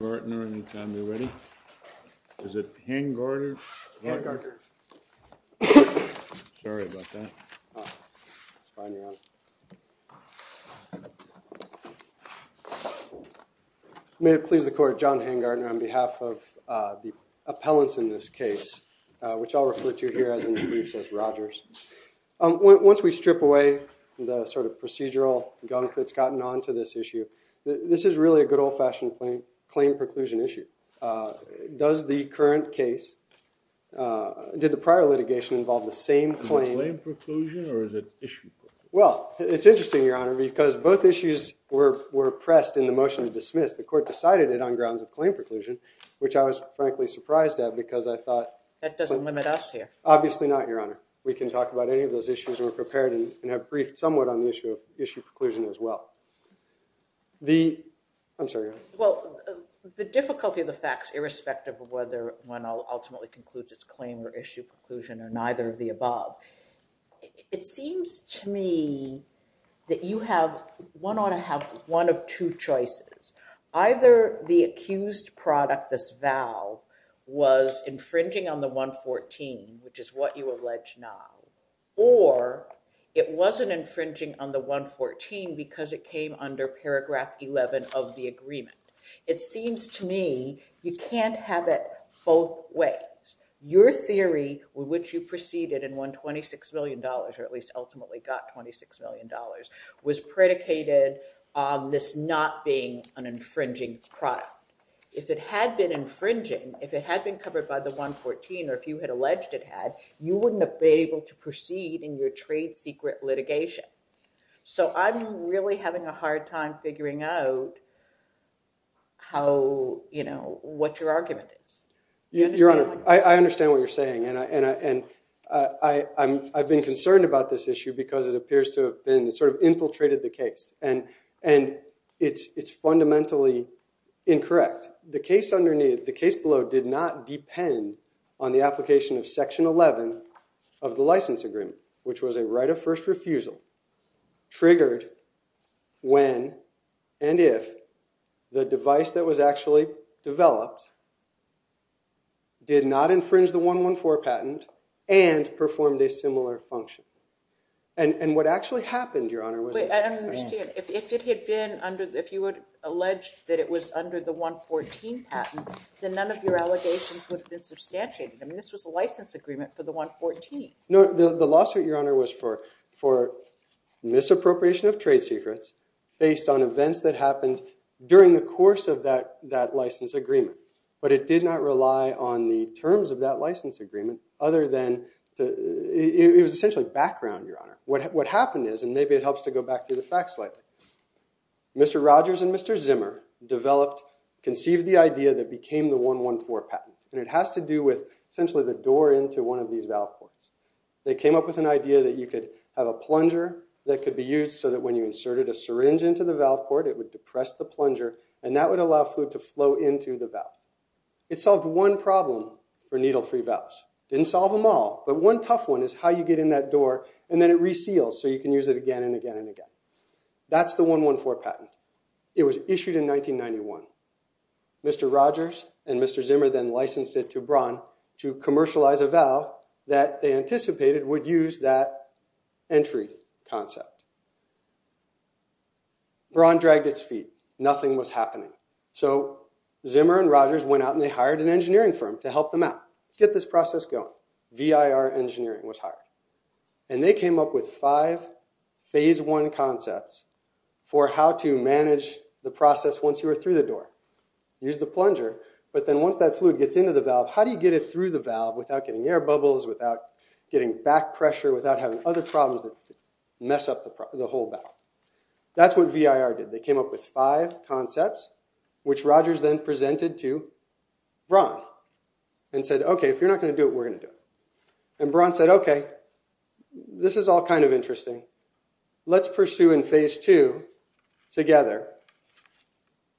PARTNERS v. HANGARTERS v. ROGERS v. HANGARTERS v. HANGARTERS The difficulty of the facts, irrespective of whether one ultimately concludes its claim or issue conclusion or neither of the above, it seems to me that one ought to have one of two choices. Either the accused product, this vow, was infringing on the 114, which is what you allege now, or it wasn't infringing on the 114 because it came under paragraph 11 of the agreement. It seems to me you can't have it both ways. Your theory with which you proceeded and won $26 million, or at least ultimately got $26 million, was predicated on this not being an infringing product. If it had been infringing, if it had been covered by the 114, or if you had alleged it had, you wouldn't have been able to proceed in your trade secret litigation. So I'm really having a hard time figuring out what your argument is. Your Honor, I understand what you're saying. And I've been concerned about this issue because it appears to have sort of infiltrated the case. And it's fundamentally incorrect. The case below did not depend on the application of section 11 of the license agreement, which was a right of first refusal, triggered when and if the device that was actually developed did not infringe the 114 patent and performed a similar function. And what actually happened, Your Honor, was that- Wait, I don't understand. If it had been under, if you had alleged that it was under the 114 patent, then none of your allegations would have been substantiated. I mean, this was a license agreement for the 114. No, the lawsuit, Your Honor, was for misappropriation of trade secrets based on events that happened during the course of that license agreement. But it did not rely on the terms of that license agreement other than, it was essentially background, Your Honor. What happened is, and maybe it helps to go back through the facts slightly, Mr. Rogers and Mr. Zimmer developed, conceived the idea that became the 114 patent. And it has to do with, essentially, the door into one of these valve ports. They came up with an idea that you could have a plunger that could be used so that when you inserted a syringe into the valve port, it would depress the plunger and that would allow fluid to flow into the valve. It solved one problem for needle-free valves. It didn't solve them all, but one tough one is how you get in that door and then it reseals so you can use it again and again and again. That's the 114 patent. It was issued in 1991. Mr. Rogers and Mr. Zimmer then licensed it to Braun to commercialize a valve that they anticipated would use that entry concept. Braun dragged its feet. Nothing was happening. So Zimmer and Rogers went out and they hired an engineering firm to help them out. Let's get this process going. VIR Engineering was hired. And they came up with five phase one concepts for how to manage the process once you are through the door. Use the plunger, but then once that fluid gets into the valve, how do you get it through the valve without getting air bubbles, without getting back pressure, without having other problems that mess up the whole valve? That's what VIR did. They came up with five concepts, which Rogers then presented to Braun and said, okay, if you're not going to do it, we're going to do it. And Braun said, okay, this is all kind of interesting. Let's pursue in phase two together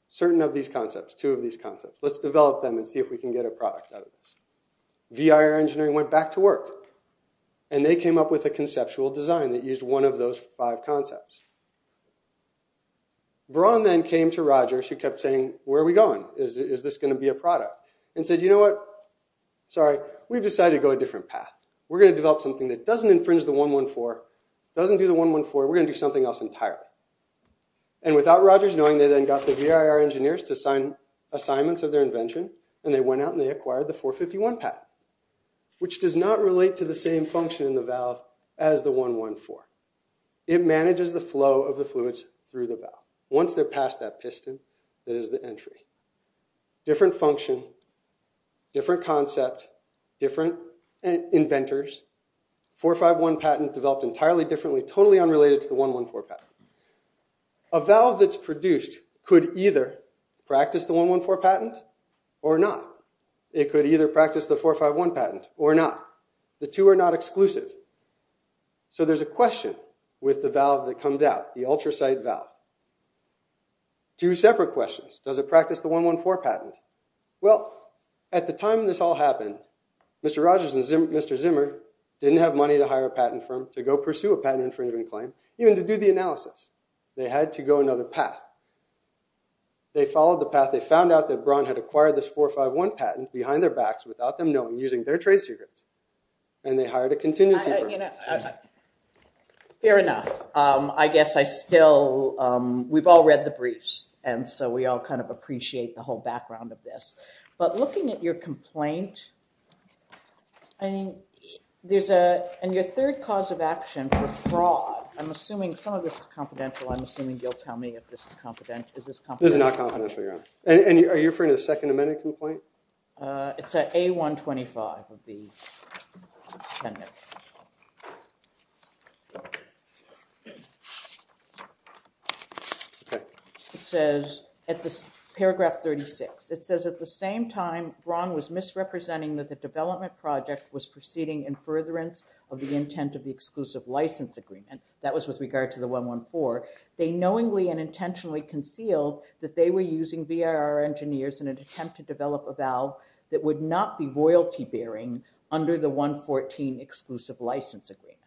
certain of these concepts, two of these concepts. Let's develop them and see if we can get a product out of this. VIR Engineering went back to work. And they came up with a conceptual design that used one of those five concepts. Braun then came to Rogers who kept saying, where are we going? Is this going to be a product? And said, you know what? Sorry, we've decided to go a different path. We're going to develop something that doesn't infringe the 114, doesn't do the 114, we're going to do something else entirely. And without Rogers knowing, they then got the VIR engineers to sign assignments of their invention, and they went out and they acquired the 451 patent, which does not relate to the same function in the valve as the 114. It manages the flow of the fluids through the valve. Once they're past that piston, that is the entry. Different function, different concept, different inventors. 451 patent developed entirely differently, totally unrelated to the 114 patent. A valve that's produced could either practice the 114 patent or not. It could either practice the 451 patent or not. The two are not exclusive. So there's a question with the valve that comes out, the ultracite valve. Two separate questions. Does it practice the 114 patent? Well, at the time this all happened, Mr. Rogers and Mr. Zimmer didn't have money to hire a patent firm to go pursue a patent infringement claim, even to do the analysis. They had to go another path. They followed the path. They found out that Braun had acquired this 451 patent behind their backs without them knowing, using their trade secrets, and they hired a contingency firm. Fair enough. I guess I still – we've all read the briefs, and so we all kind of appreciate the whole background of this. But looking at your complaint, and your third cause of action for fraud, I'm assuming some of this is confidential. I'm assuming you'll tell me if this is confidential. This is not confidential, Your Honor. Are you referring to the Second Amendment complaint? It's at A125 of the appendix. Okay. It says at paragraph 36, it says, at the same time Braun was misrepresenting that the development project was proceeding in furtherance of the intent of the exclusive license agreement. That was with regard to the 114. They knowingly and intentionally concealed that they were using VRR engineers in an attempt to develop a valve that would not be royalty-bearing under the 114 exclusive license agreement.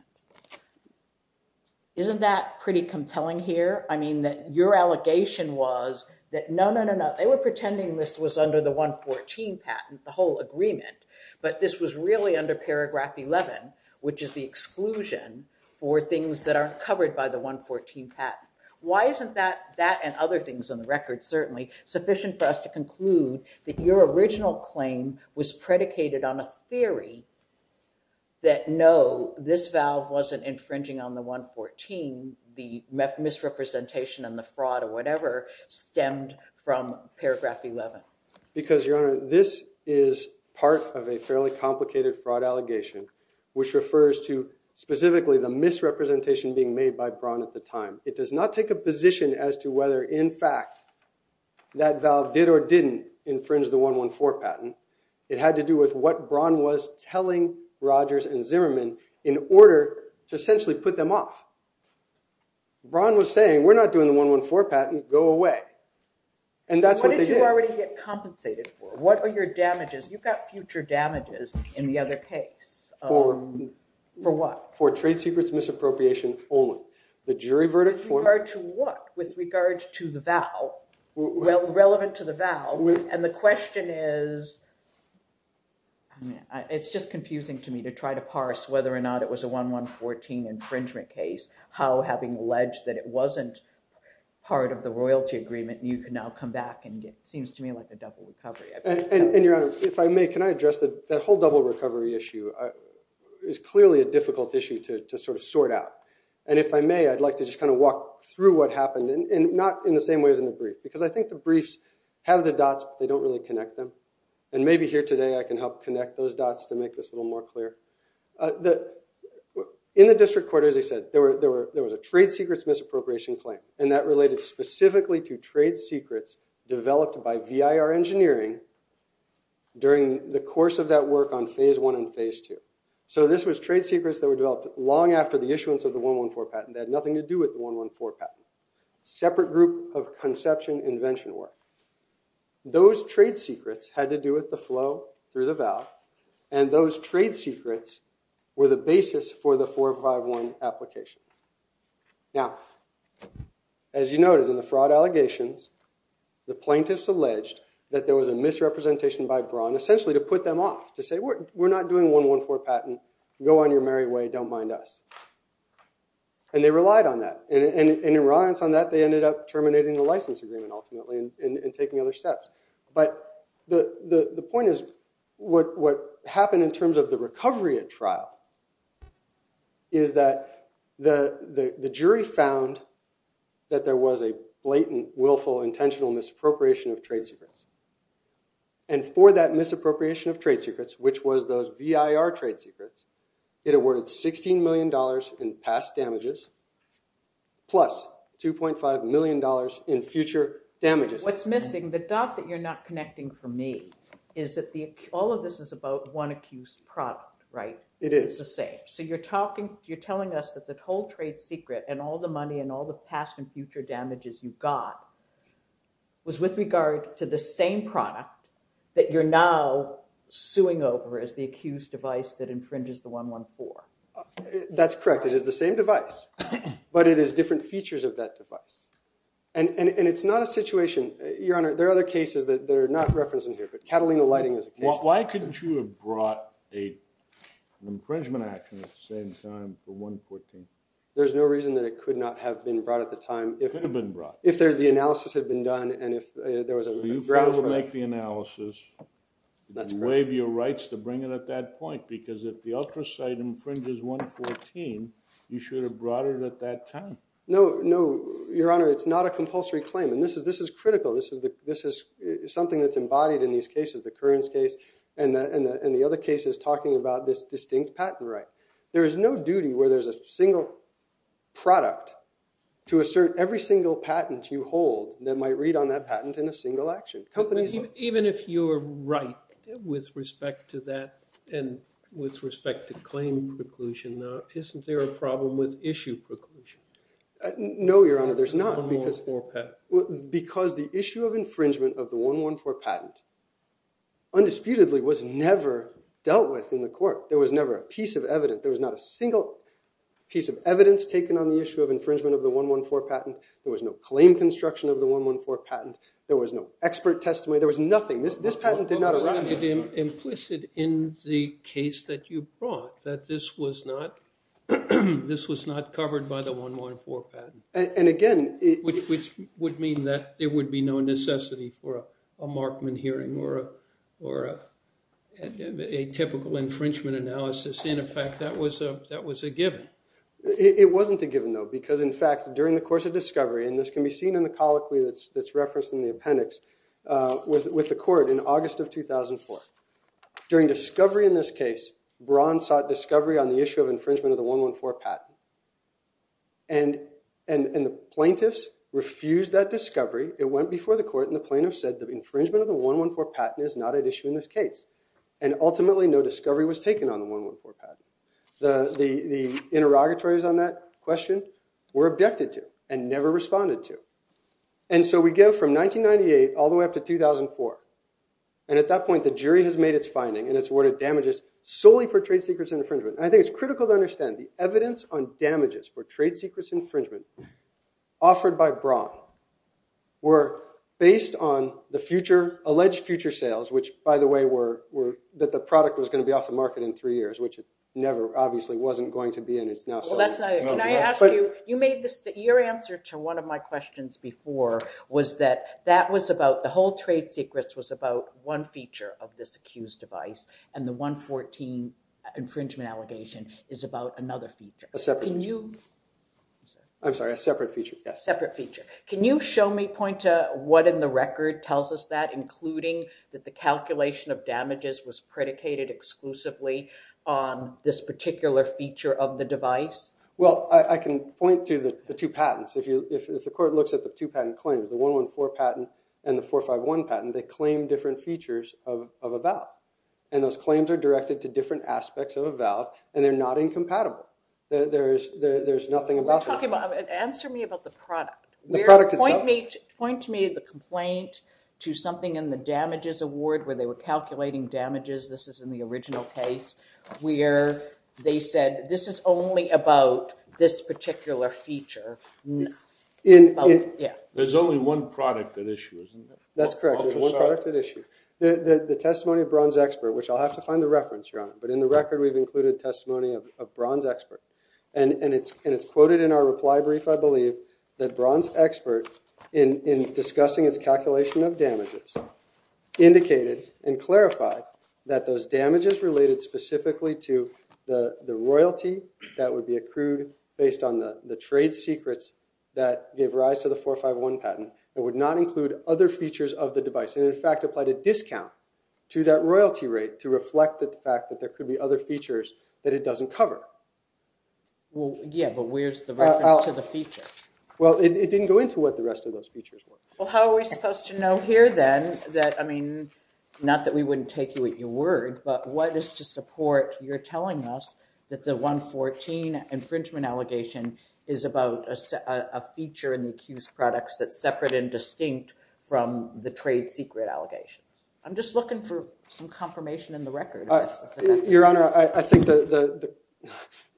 Isn't that pretty compelling here? I mean, your allegation was that, no, no, no, no, they were pretending this was under the 114 patent, the whole agreement, but this was really under paragraph 11, which is the exclusion for things that aren't covered by the 114 patent. Why isn't that and other things on the record, certainly, sufficient for us to conclude that your original claim was predicated on a theory that, no, this valve wasn't infringing on the 114, the misrepresentation and the fraud or whatever stemmed from paragraph 11? Because, Your Honor, this is part of a fairly complicated fraud allegation, which refers to specifically the misrepresentation being made by Braun at the time. It does not take a position as to whether, in fact, that valve did or didn't infringe the 114 patent. It had to do with what Braun was telling Rogers and Zimmerman in order to essentially put them off. Braun was saying, we're not doing the 114 patent. And that's what they did. So what did you already get compensated for? What are your damages? You got future damages in the other case. For what? For trade secrets misappropriation only. The jury verdict for me. With regard to what? Relevant to the valve. And the question is, it's just confusing to me to try to parse whether or not it was a 114 infringement case. How, having alleged that it wasn't part of the royalty agreement, you can now come back and get, it seems to me, like a double recovery. And, Your Honor, if I may, can I address that whole double recovery issue? It's clearly a difficult issue to sort of sort out. And if I may, I'd like to just kind of walk through what happened, and not in the same way as in the brief. Because I think the briefs have the dots, but they don't really connect them. And maybe here today I can help connect those dots to make this a little more clear. In the district court, as I said, there was a trade secrets misappropriation claim. And that related specifically to trade secrets developed by VIR Engineering during the course of that work on Phase 1 and Phase 2. So this was trade secrets that were developed long after the issuance of the 114 patent. They had nothing to do with the 114 patent. Separate group of conception invention work. Those trade secrets had to do with the flow through the valve. And those trade secrets were the basis for the 451 application. Now, as you noted, in the fraud allegations, the plaintiffs alleged that there was a misrepresentation by Braun, essentially to put them off, to say, we're not doing 114 patent. Go on your merry way. Don't mind us. And they relied on that. And in reliance on that, they ended up terminating the license agreement, ultimately, and taking other steps. But the point is, what happened in terms of the recovery at trial is that the jury found that there was a blatant, willful, intentional misappropriation of trade secrets. And for that misappropriation of trade secrets, which was those VIR trade secrets, it awarded $16 million in past damages plus $2.5 million in future damages. What's missing, the dot that you're not connecting for me, is that all of this is about one accused product, right? It is. It's the same. So you're telling us that the whole trade secret and all the money and all the past and future damages you got was with regard to the same product that you're now suing over as the accused device that infringes the 114? That's correct. It is the same device. But it has different features of that device. And it's not a situation... Your Honor, there are other cases that are not referenced in here, but Catalina Lighting is a case... Why couldn't you have brought an infringement action at the same time for 114? There's no reason that it could not have been brought at the time. It could have been brought. If the analysis had been done and if there was a grounds for it. So you failed to make the analysis. That's correct. You waive your rights to bring it at that point because if the ultra-site infringes 114, you should have brought it at that time. No, Your Honor, it's not a compulsory claim. And this is critical. This is something that's embodied in these cases, the Currens case and the other cases talking about this distinct patent right. There is no duty where there's a single product to assert every single patent you hold that might read on that patent in a single action. Even if you're right with respect to that and with respect to claim preclusion, isn't there a problem with issue preclusion? No, Your Honor, there's not. Because the issue of infringement of the 114 patent undisputedly was never dealt with in the court. There was never a piece of evidence. There was not a single piece of evidence taken on the issue of infringement of the 114 patent. There was no claim construction of the 114 patent. There was no expert testimony. There was nothing. This patent did not arise. But wasn't it implicit in the case that you brought that this was not covered by the 114 patent? And again, it... Which would mean that there would be no necessity for a Markman hearing or a typical infringement analysis. In effect, that was a given. It wasn't a given, though, because in fact, during the course of discovery, and this can be seen in the colloquy that's referenced in the appendix, with the court in August of 2004, during discovery in this case, Braun sought discovery on the issue of infringement of the 114 patent. And the plaintiffs refused that discovery. It went before the court, and the plaintiffs said the infringement of the 114 patent is not at issue in this case. And ultimately, no discovery was taken on the 114 patent. The interrogatories on that question were objected to and never responded to. And so we go from 1998 all the way up to 2004. And at that point, the jury has made its finding, and it's awarded damages solely for trade secrets and infringement. And I think it's critical to understand the evidence on damages for trade secrets infringement offered by Braun were based on the future... alleged future sales, which, by the way, were that the product was going to be off the market in three years, which it never, obviously, wasn't going to be, and it's now... Can I ask you... Your answer to one of my questions before was that that was about... The whole trade secrets was about one feature of this accused device, and the 114 infringement allegation is about another feature. Can you... I'm sorry, a separate feature, yes. Separate feature. Can you show me, point to what in the record tells us that, including that the calculation of damages was predicated exclusively on this particular feature of the device? Well, I can point to the two patents. If the court looks at the two patent claims, the 114 patent and the 451 patent, they claim different features of a valve, and those claims are directed to different aspects of a valve, and they're not incompatible. There's nothing about... Answer me about the product. The product itself? Point to me the complaint to something in the damages award where they were calculating damages. This is in the original case where they said, this is only about this particular feature. There's only one product at issue, isn't there? That's correct. There's one product at issue. The testimony of Bronze Expert, which I'll have to find the reference, Your Honor, but in the record we've included testimony of Bronze Expert, and it's quoted in our reply brief, I believe, that Bronze Expert, in discussing its calculation of damages, indicated and clarified that those damages related specifically to the royalty that would be accrued based on the trade secrets that gave rise to the 451 patent would not include other features of the device and in fact applied a discount to that royalty rate to reflect the fact that there could be other features that it doesn't cover. Yeah, but where's the reference to the feature? Well, it didn't go into what the rest of those features were. Well, how are we supposed to know here then not that we wouldn't take you at your word, but what is to support your telling us that the 114 infringement allegation is about a feature in the accused products that's separate and distinct from the trade secret allegations? I'm just looking for some confirmation in the record. Your Honor, I think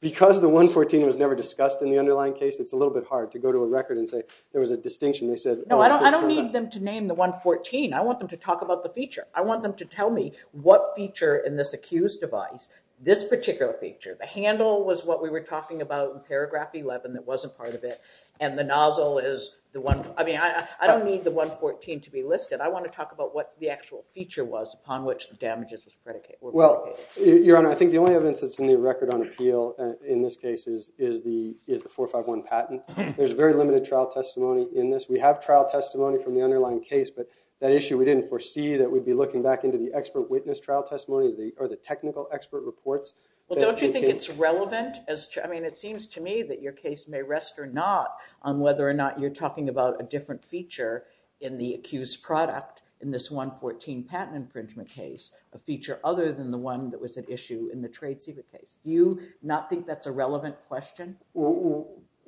because the 114 was never discussed in the underlying case, it's a little bit hard to go to a record and say there was a distinction. No, I don't need them to name the 114. I want them to talk about the feature. I want them to tell me what feature in this accused device, this particular feature, the handle was what we were talking about in paragraph 11 that wasn't part of it and the nozzle is the one. I mean, I don't need the 114 to be listed. I want to talk about what the actual feature was upon which the damages were predicated. Well, Your Honor, I think the only evidence that's in the record on appeal in this case is the 451 patent. There's very limited trial testimony in this. We have trial testimony from the underlying case, but that issue we didn't foresee that we'd be looking back into the expert witness trial testimony or the technical expert reports. Well, don't you think it's relevant? I mean, it seems to me that your case may rest or not on whether or not you're talking about a different feature in the accused product in this 114 patent infringement case, a feature other than the one that was an issue in the trade secret case. Do you not think that's a relevant question?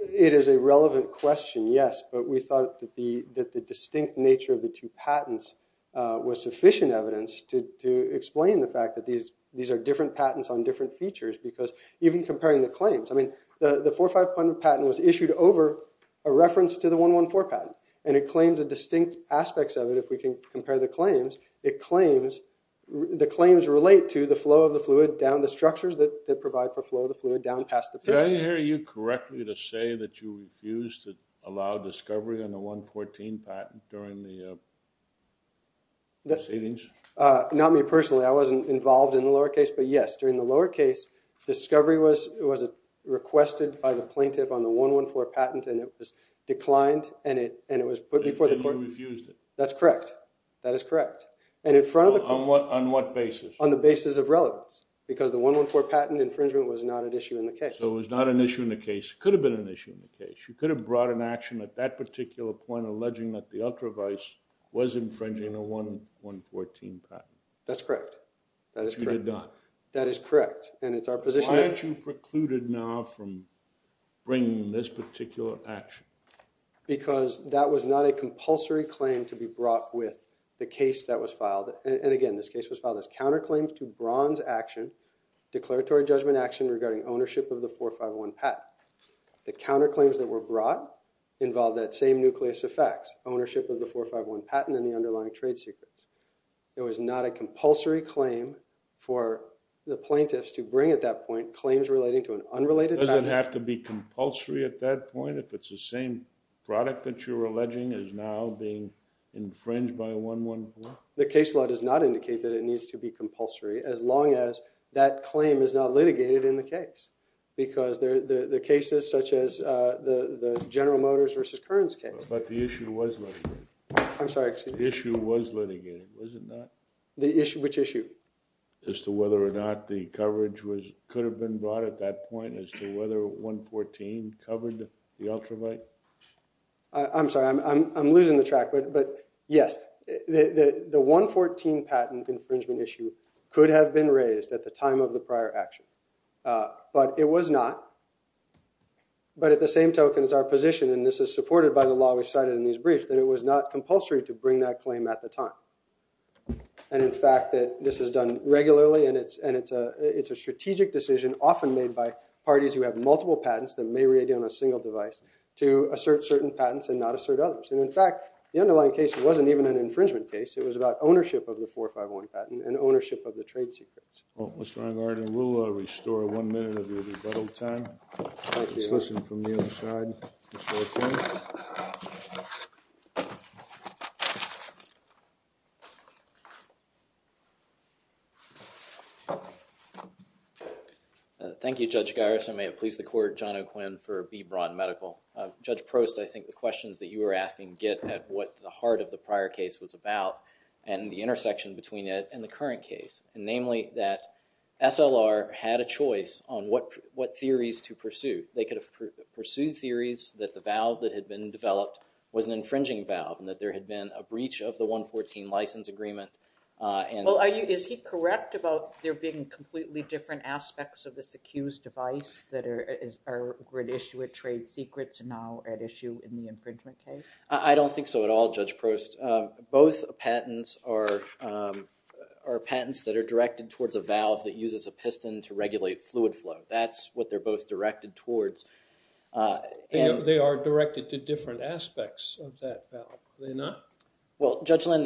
It is a relevant question, yes, but we thought that the distinct nature of the two patents was sufficient evidence to explain the fact that these are different patents on different features because even comparing the claims, I mean, the 451 patent was issued over a reference to the 114 patent, and it claims the distinct aspects of it. If we can compare the claims, the claims relate to the flow of the fluid down the structures that provide for flow of the fluid down past the piston. Did I hear you correctly to say that you refused to allow discovery on the 114 patent during the proceedings? Not me personally. I wasn't involved in the lower case, but yes, during the lower case, discovery was requested by the plaintiff on the 114 patent, and it was declined, and it was put before the court. The court refused it. That's correct. That is correct. On what basis? On the basis of relevance because the 114 patent infringement was not an issue in the case. So it was not an issue in the case. It could have been an issue in the case. You could have brought an action at that particular point alleging that the ultravise was infringing the 114 patent. That's correct. You did not. That is correct, and it's our position. Why aren't you precluded now from bringing this particular action? Because that was not a compulsory claim to be brought with the case that was filed, and again, this case was filed as counterclaims to bronze action, declaratory judgment action regarding ownership of the 4501 patent. The counterclaims that were brought involved that same nucleus of facts, ownership of the 451 patent and the underlying trade secrets. It was not a compulsory claim for the plaintiffs to bring at that point claims relating to an unrelated patent. Does it have to be compulsory at that point if it's the same product that you're alleging is now being infringed by 114? The case law does not indicate that it needs to be compulsory as long as that claim is not litigated in the case because the cases such as the General Motors v. Kearns case. But the issue was litigated. I'm sorry, excuse me. The issue was litigated, was it not? Which issue? As to whether or not the coverage could have been brought at that point as to whether 114 covered the ultrawide. I'm sorry, I'm losing the track, but yes. The 114 patent infringement issue could have been raised at the time of the prior action, but it was not, but at the same token as our position, and this is supported by the law we cited in these briefs, that it was not compulsory to bring that claim at the time. And in fact, that this is done regularly and it's a strategic decision often made by parties who have multiple patents that may re-ideal on a single device to assert certain patents and not assert others. And in fact, the underlying case wasn't even an infringement case. It was about ownership of the 451 patent and ownership of the trade secrets. Well, Mr. Enghardt, we'll restore one minute of your rebuttal time. Let's listen from the other side. Mr. O'Quinn. Thank you, Judge Garrison. May it please the court, John O'Quinn for B. Braun Medical. Judge Prost, I think the questions that you were asking get at what the heart of the prior case was about and the intersection between it and the current case, namely that SLR had a choice on what theories to pursue. They could have pursued theories that the valve that had been developed was an infringing valve and that there had been a breach of the 114 license agreement. Well, is he correct about there being completely different aspects of this accused device that are at issue with trade secrets and now at issue in the infringement case? I don't think so at all, Judge Prost. Both patents are patents that are directed towards a valve that uses a piston to regulate fluid flow. That's what they're both directed towards. They are directed to different aspects of that valve, are they not? Well, Judge Lynn,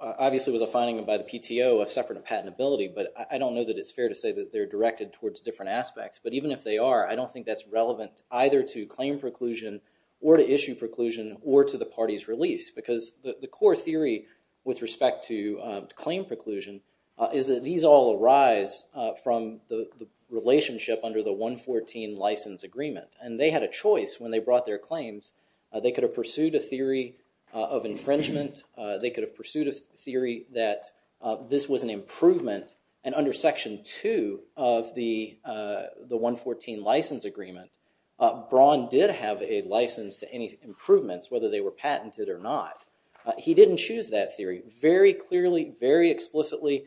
obviously it was a finding by the PTO of separate patentability, but I don't know that it's fair to say that they're directed towards different aspects, but even if they are, I don't think that's relevant either to claim preclusion or to issue preclusion or to the party's release because the core theory with respect to claim preclusion is that these all arise from the relationship under the 114 license agreement and they had a choice when they brought their claims. They could have pursued a theory of infringement. They could have pursued a theory that this was an improvement and under Section 2 of the 114 license agreement, Braun did have a license to any improvements whether they were patented or not. He didn't choose that theory. Very clearly, very explicitly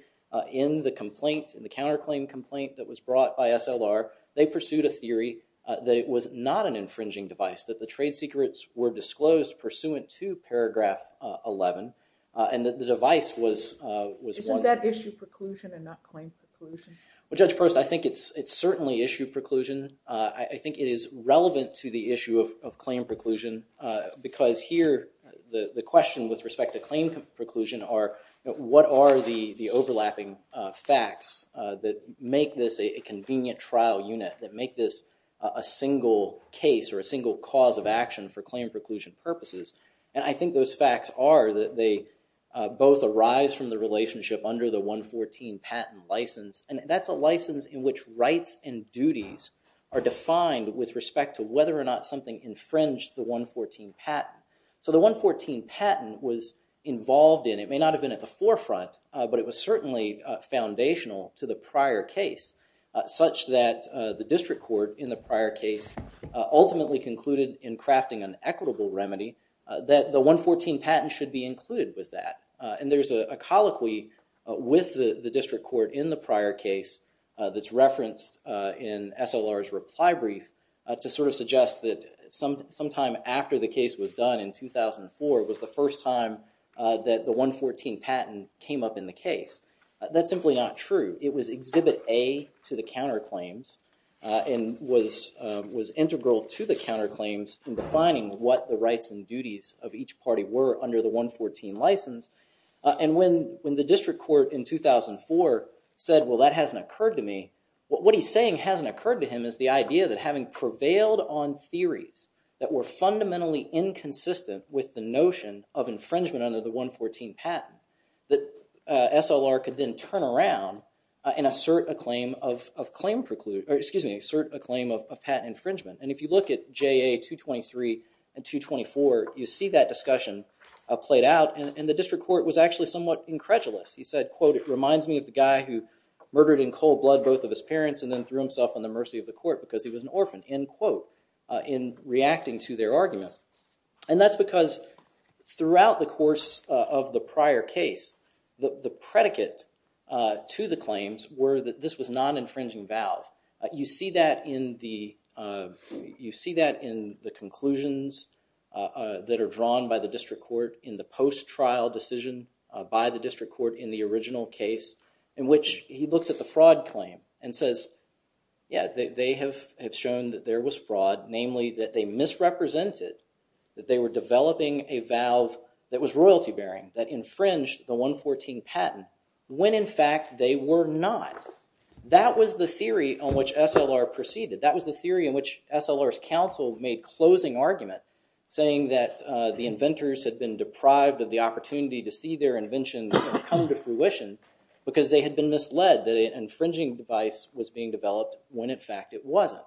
in the complaint, in the counterclaim complaint that was brought by SLR, they pursued a theory that it was not an infringing device, that the trade secrets were disclosed pursuant to paragraph 11 and that the device was... Isn't that issue preclusion and not claim preclusion? Well, Judge Proust, I think it's certainly issue preclusion. I think it is relevant to the issue of claim preclusion because here the question with respect to claim preclusion are what are the overlapping facts that make this a convenient trial unit, that make this a single case or a single cause of action for claim preclusion purposes and I think those facts are that they both arise from the relationship under the 114 patent license and that's a license in which rights and duties are defined with respect to whether or not something infringed the 114 patent. So the 114 patent was involved in, it may not have been at the forefront, but it was certainly foundational to the prior case such that the district court in the prior case ultimately concluded in crafting an equitable remedy that the 114 patent should be included with that and there's a colloquy with the district court in the prior case that's referenced in SLR's reply brief to sort of suggest that sometime after the case was done in 2004 was the first time that the 114 patent came up in the case. That's simply not true. It was exhibit A to the counterclaims and was integral to the counterclaims in defining what the rights and duties of each party were under the 114 license and when the district court in 2004 said, well that hasn't occurred to me, what he's saying hasn't occurred to him is the idea that having prevailed on theories that were fundamentally inconsistent with the notion of infringement under the 114 patent that SLR could then turn around and assert a claim of patent infringement and if you look at JA 223 and 224 you see that discussion played out and the district court was actually somewhat incredulous. He said, quote, it reminds me of the guy who murdered in cold blood both of his parents and then threw himself on the mercy of the court because he was an orphan, end quote, in reacting to their argument and that's because throughout the course of the prior case the predicate to the claims were that this was non-infringing valve. You see that in the conclusions that are drawn by the district court in the post-trial decision by the district court in the original case in which he looks at the fraud claim and says, yeah, they have shown that there was fraud namely that they misrepresented that they were developing a valve that was royalty bearing that infringed the 114 patent when in fact they were not. That was the theory on which SLR proceeded. That was the theory in which SLR's counsel made closing argument saying that the inventors had been deprived of the opportunity to see their invention come to fruition because they had been misled that infringing device was being developed when in fact it wasn't.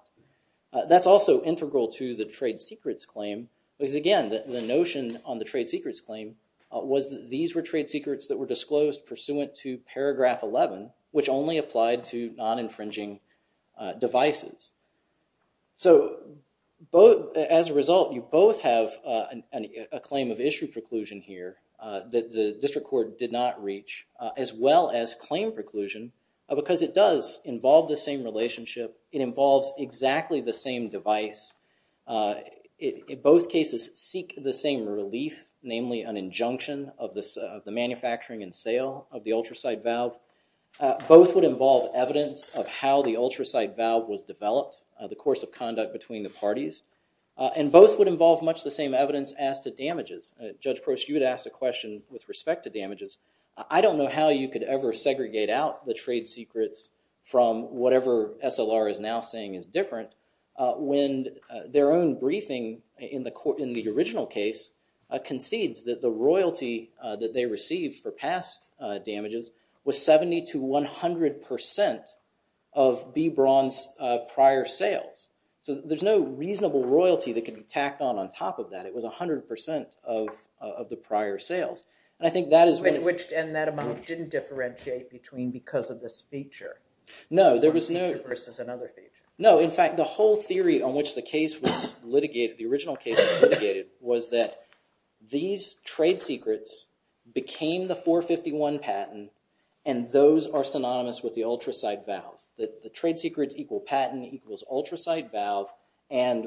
That's also integral to the trade secrets claim because again the notion on the trade secrets claim was that these were trade secrets that were disclosed pursuant to paragraph 11 which only applied to non-infringing devices. So as a result you both have a claim of issue preclusion here that the district court did not reach as well as claim preclusion because it does involve the same relationship. It involves exactly the same device. Both cases seek the same relief namely an injunction of the manufacturing and sale of the ultracite valve. Both would involve evidence of how the ultracite valve was developed the course of conduct between the parties and both would involve much the same evidence as to damages. Judge Prost you had asked a question with respect to damages. I don't know how you could ever segregate out the trade secrets from whatever SLR is now saying is different when their own briefing in the original case concedes that the royalty that they received for past damages was 70 to 100 percent of B. Braun's prior sales. So there's no reasonable royalty that can be tacked on on top of that. It was 100 percent of the prior sales. And I think that is... And that amount didn't differentiate between because of this feature. No there was no... One feature versus another feature. No in fact the whole theory on which the case was litigated the original case was litigated was that these trade secrets became the 451 patent and those are synonymous with the ultracite valve. The trade secrets equal patent equals ultracite valve and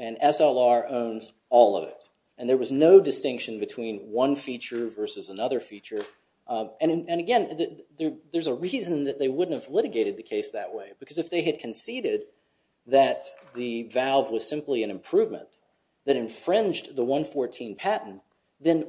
SLR owns all of it. And there was no distinction between one feature versus another feature and again there's a reason that they wouldn't have litigated the case that way because if they had conceded that the valve was simply an improvement that infringed the 114 patent then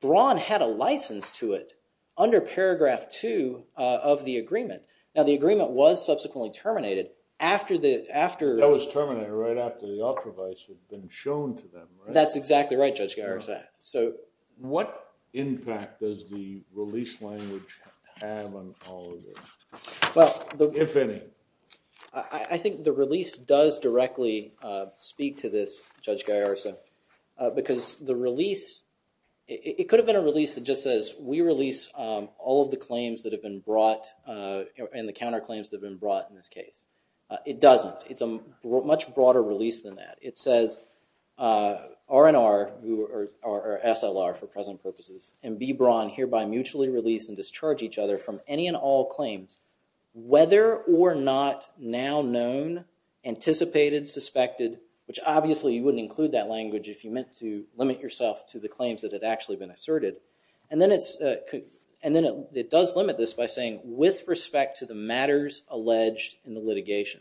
Braun had a license to it under paragraph 2 of the agreement. Now the agreement was subsequently terminated after the... That was terminated right after the ultravisors had been shown to them. That's exactly right Judge Garisak. So what impact does the release language have on all of this? If any. I think the release does directly speak to this Judge Garisak because the release it could have been a release that just says we release all of the claims that have been brought and the counter claims that have been brought in this case. It doesn't. It's a much broader release than that. It says R&R or SLR for present purposes and B. Braun hereby mutually release and discharge each other from any and all claims whether or not now known anticipated, suspected which obviously you wouldn't include that language if you meant to limit yourself to the claims that had actually been asserted. And then it does limit this by saying with respect to the matters alleged in the litigation.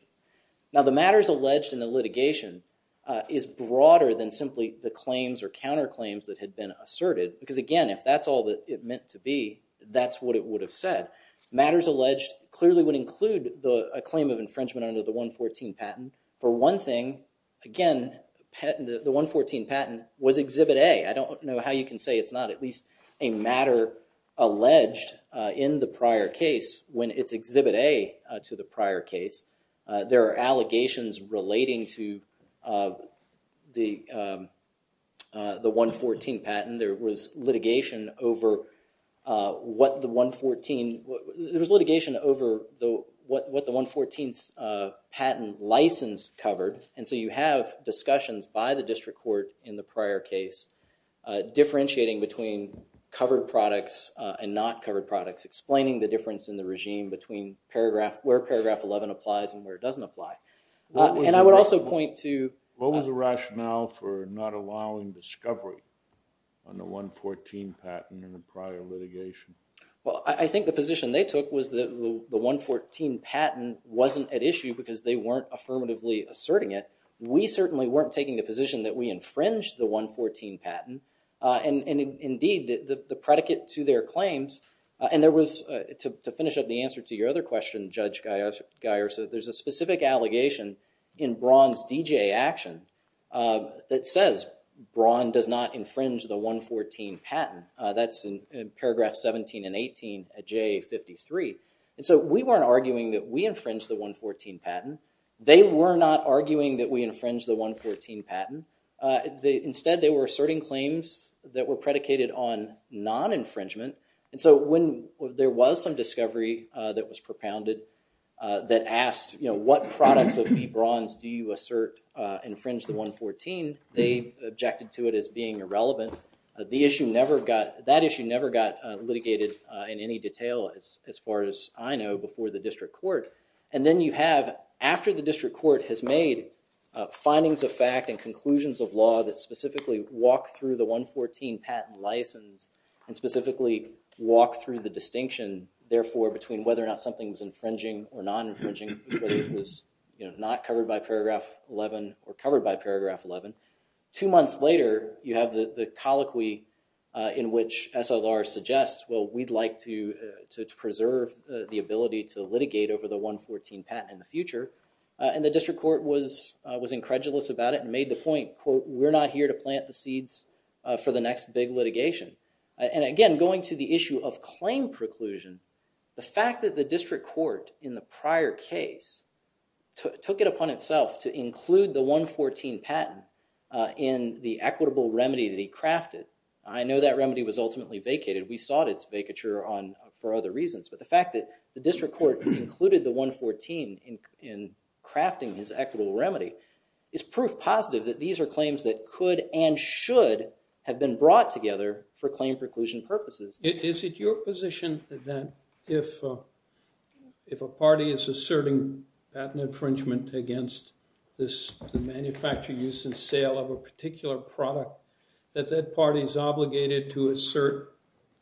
Now the matters alleged in the litigation is broader than simply the claims or counter claims that had been asserted because again if that's all that it meant to be that's what it would have said. Matters alleged clearly would include a claim of infringement under the 114 patent. For one thing again the 114 patent was exhibit A. I don't know how you can say it's not at least a matter alleged in the prior case when it's exhibit A to the prior case. There are allegations relating to the 114 patent. There was litigation over what the 114 there was litigation over what the 114's patent license covered and so you have discussions by the district court in the prior case differentiating between covered products and not covered products. Explaining the difference in the regime between paragraph where paragraph 11 applies and where it doesn't apply. And I would also point to What was the rationale for not allowing discovery on the 114 patent in the prior litigation? Well I think the position they took was that the 114 patent wasn't at issue because they weren't affirmatively asserting it. We certainly weren't taking the position that we infringed the 114 patent and indeed the predicate to their claims and there was to finish up the answer to your other question Judge Geyer said there's a specific allegation in Braun's D.J. action that says Braun does not infringe the 114 patent. That's in paragraph 17 and 18 at J.A. 53. And so we weren't arguing that we infringed the 114 patent. They were not arguing that we infringed the 114 patent. Instead they were asserting claims that were predicated on non-infringement and so when there was some discovery that was propounded that asked what products of B. Braun's do you assert infringe the 114 they objected to it as being irrelevant. The issue never got that issue never got litigated in any detail as far as I know before the district court and then you have after the district court has made findings of fact and conclusions of law that specifically walk through the 114 patent license and specifically walk through the distinction therefore between whether or not something was infringing or non-infringing whether it was not covered by paragraph 11 or covered by paragraph 11 two months later you have the colloquy in which SLR suggests well we'd like to to preserve the ability to litigate over the 114 patent in the future and the district court was was incredulous about it and made the point quote we're not here to plant the seeds for the next big litigation and again going to the issue of claim preclusion the fact that the district court in the prior case took it upon itself to include the 114 patent in the equitable remedy that he crafted I know that remedy was ultimately vacated we sought its vacature on for other reasons but the fact that the district court included the 114 in crafting his equitable remedy is proof positive that these are claims that could and should have been brought together for claim preclusion purposes is it your position that if if a party is asserting patent infringement against this the manufacture use and sale of a particular product that that party is obligated to assert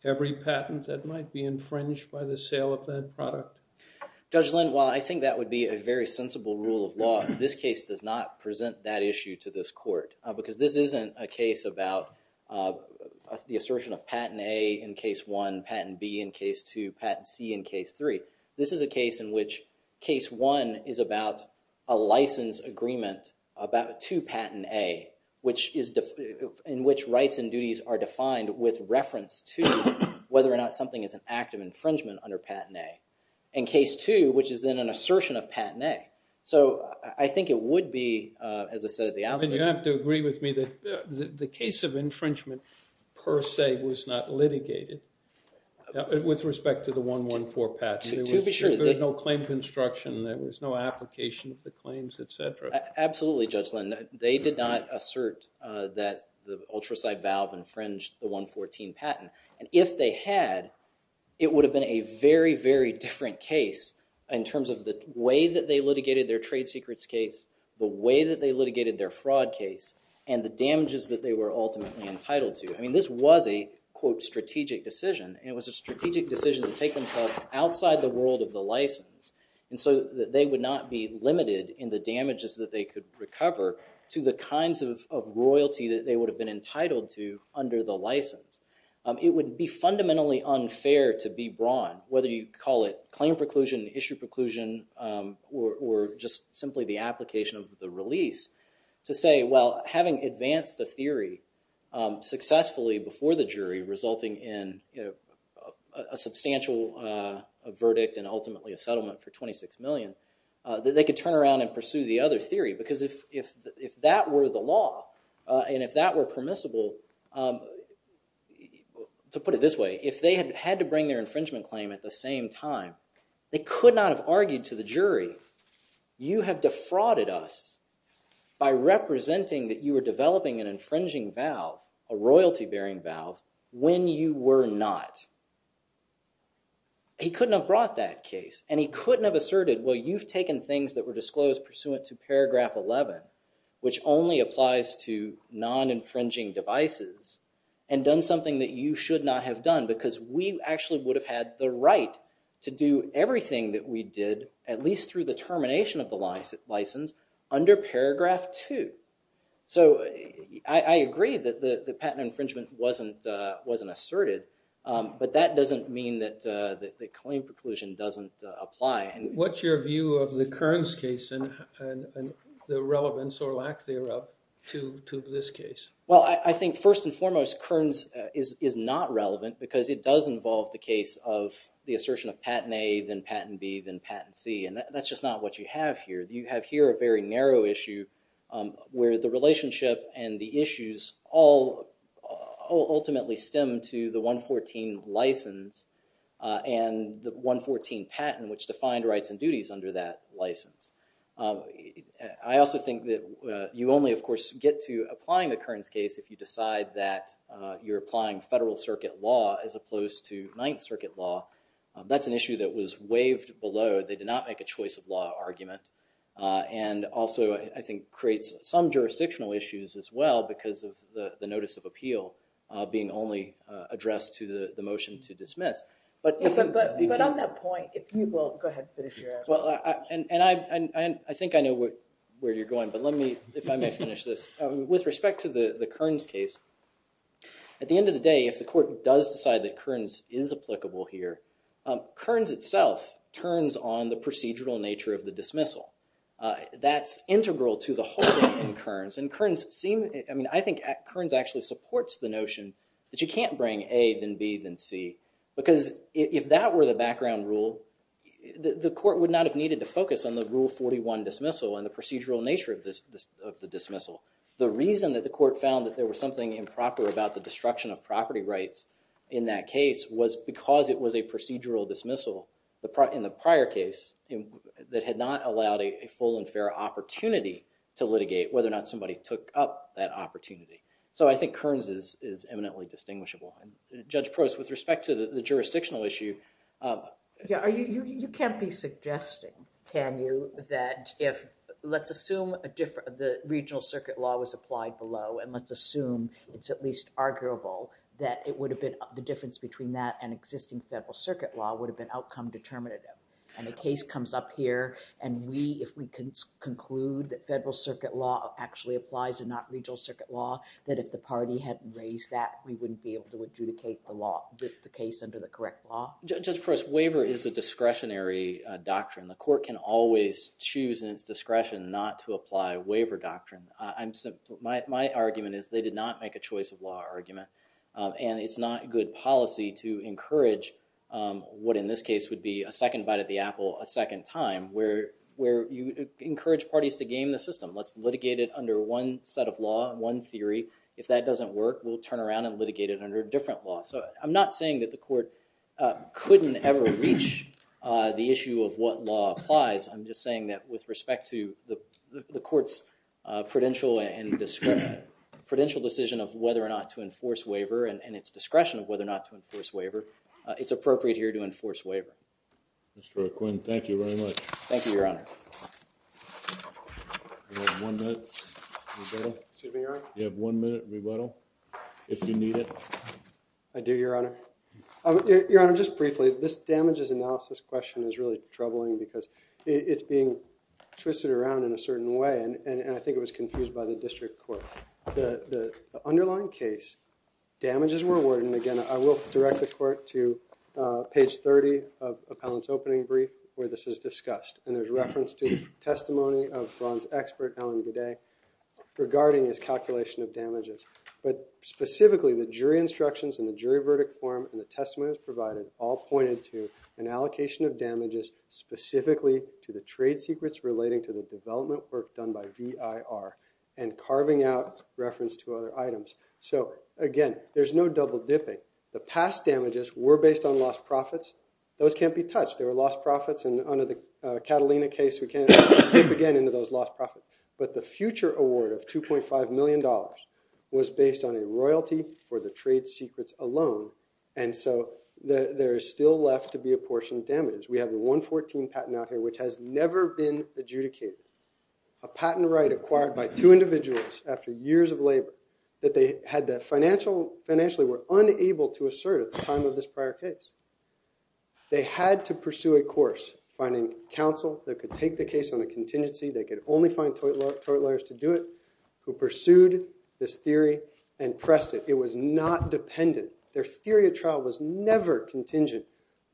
every patent that might be infringed by the sale of that product Judge Lynn while I think that would be a very sensible rule of law this case does not present that issue to this court because this isn't a case about the assertion of patent A in case 1 patent B in case 2 patent C in case 3 this is a case in which case 1 is about a license agreement about 2 patent A which is in which rights and duties are defined with reference to whether or not something is an act of infringement under patent A in case 2 which is then an assertion of patent A so I think it would be as I said at the outset you have to agree with me that the case of infringement per se was not litigated with respect to the 114 patent there was no claim construction there was no application of the claims etc. Absolutely Judge Lynn they did not assert that the ultraside valve infringed the 114 patent and if they had it would have been a very very different case in terms of the way that they litigated their trade secrets case the way that they litigated their fraud case and the damages that they were ultimately entitled to I mean this was a quote strategic decision and it was a strategic decision to take themselves outside the world of the license and so that they would not be limited in the damages that they could recover to the kinds of royalty that they would have been entitled to under the license it would be fundamentally unfair to be broad whether you call it claim preclusion issue preclusion or just simply the application of the release to say well having advanced a theory successfully before the jury resulting in a substantial verdict and ultimately a settlement for 26 million that they could turn around and pursue the other theory because if that were the law and if that were permissible to put it this way if they had to bring their infringement claim at the same time they could not have argued to the jury you have defrauded us by representing that you were developing an infringing vow a royalty bearing vow when you were not he couldn't have brought that case and he couldn't have asserted well you've taken things that were disclosed pursuant to paragraph 11 which only applies to non-infringing devices and done something that you should not have done because we actually would have had the right to do everything that we did at least through the termination of the license under paragraph 2 so I agree that the patent infringement wasn't asserted but that doesn't mean that claim preclusion doesn't apply what's your view of the Kearns case and the relevance or lack thereof to this case well I think first and foremost Kearns is not relevant because it does involve the case of the assertion of patent A then patent B then patent C and that's just not what you have here you have here a very narrow issue where the relationship and the issues all ultimately stem to the 114 license and the 114 patent which defined rights and duties under that license I also think that you only of course get to applying the Kearns case if you decide that you're applying federal circuit law as opposed to ninth circuit law that's an issue that was waived below they did not make a choice of law argument and also I think creates some jurisdictional issues as well because of the notice of appeal being only addressed to the motion to dismiss but on that point if you will go ahead and finish your answer and I think I know where you're going but let me if I may finish this with respect to the Kearns case at the end of the day if the court does decide that Kearns is applicable here Kearns itself turns on the procedural nature of the dismissal that's integral to the holding in Kearns and Kearns seems I mean I think Kearns actually supports the notion that you can't bring A then B then C because if that were the background rule the court would not have needed to focus on the rule 41 dismissal and the procedural nature of the dismissal the reason that the court found that there was something improper about the destruction of property rights in that case was because it was a procedural dismissal in the prior case that had not allowed a full and fair opportunity to litigate whether or not somebody took up that opportunity so I think Kearns is eminently distinguishable and Judge Prost with respect to the jurisdictional issue you can't be suggesting can you that if let's assume the regional circuit law was applied below and let's assume it's at least arguable that it would have been the difference between that and existing federal circuit law would have been outcome determinative and the case comes up here and we if we can conclude that federal circuit law actually applies and not regional circuit law that if the party had raised that we wouldn't be able to adjudicate the law just the case under the correct law Judge Prost waiver is a discretionary doctrine the court can always choose in its discretion not to apply waiver doctrine I'm my argument is they did not make a choice of law argument and it's not good policy to encourage what in this case would be a second bite at the apple a second time where you encourage parties to game the system let's litigate it under one set of law one theory if that doesn't work we'll turn around and litigate it under a different law so I'm not saying that the court couldn't ever reach the issue of what law applies I'm just saying that with respect to the the court's prudential and prudential decision of whether or not to enforce waiver and its discretion of whether or not to enforce waiver it's appropriate here to enforce waiver Mr. Quinn thank you very much thank you your honor you have one minute rebuttal excuse me your honor you have one minute rebuttal if you need it I do your honor your honor just briefly this damages analysis question is really troubling because it's being twisted around in a certain way and I think it was confused by the district court the underlying case damages were awarded and again I will direct the court to page 30 of appellant's opening brief where this is discussed and there's reference to testimony of bronze expert Alan Gooday regarding his calculation of damages but specifically the jury instructions and the jury verdict form and the testimony provided all pointed to an allocation of damages specifically to the trade secrets relating to the development work done by VIR and carving out reference to other items so again there's no double dipping the past damages were based on lost profits those can't be touched they were lost profits and under the Catalina case we can't dip again into those lost profits but the future award of 2.5 million dollars was based on a royalty for the trade secrets alone and so there is still left to be a portion of damage we have the 114 patent out here which has never been adjudicated a patent right acquired by two individuals after years of labor that they had that financially were unable to assert at the time of this prior case they had to pursue a course finding counsel that could take the case on a contingency they could only find tort lawyers to do it who pursued this theory and pressed it it was not dependent their theory of trial was never contingent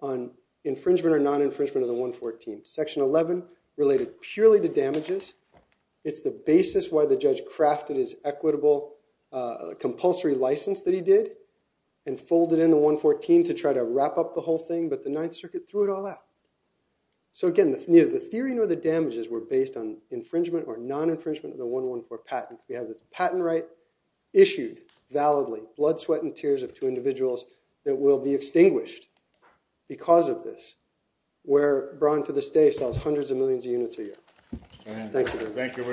on infringement or non-infringement of the 114 section 11 related purely to damages it's the basis why the judge crafted his equitable compulsory license that he did and folded in the 114 to try to wrap up the whole thing but the 9th circuit threw it all out so again neither the theory nor the damages were based on infringement or non-infringement of the 114 patent we have this patent right issued validly blood sweat and tears of two individuals that will be extinguished because of this where Braun to this day sells hundreds of millions of units a year thank you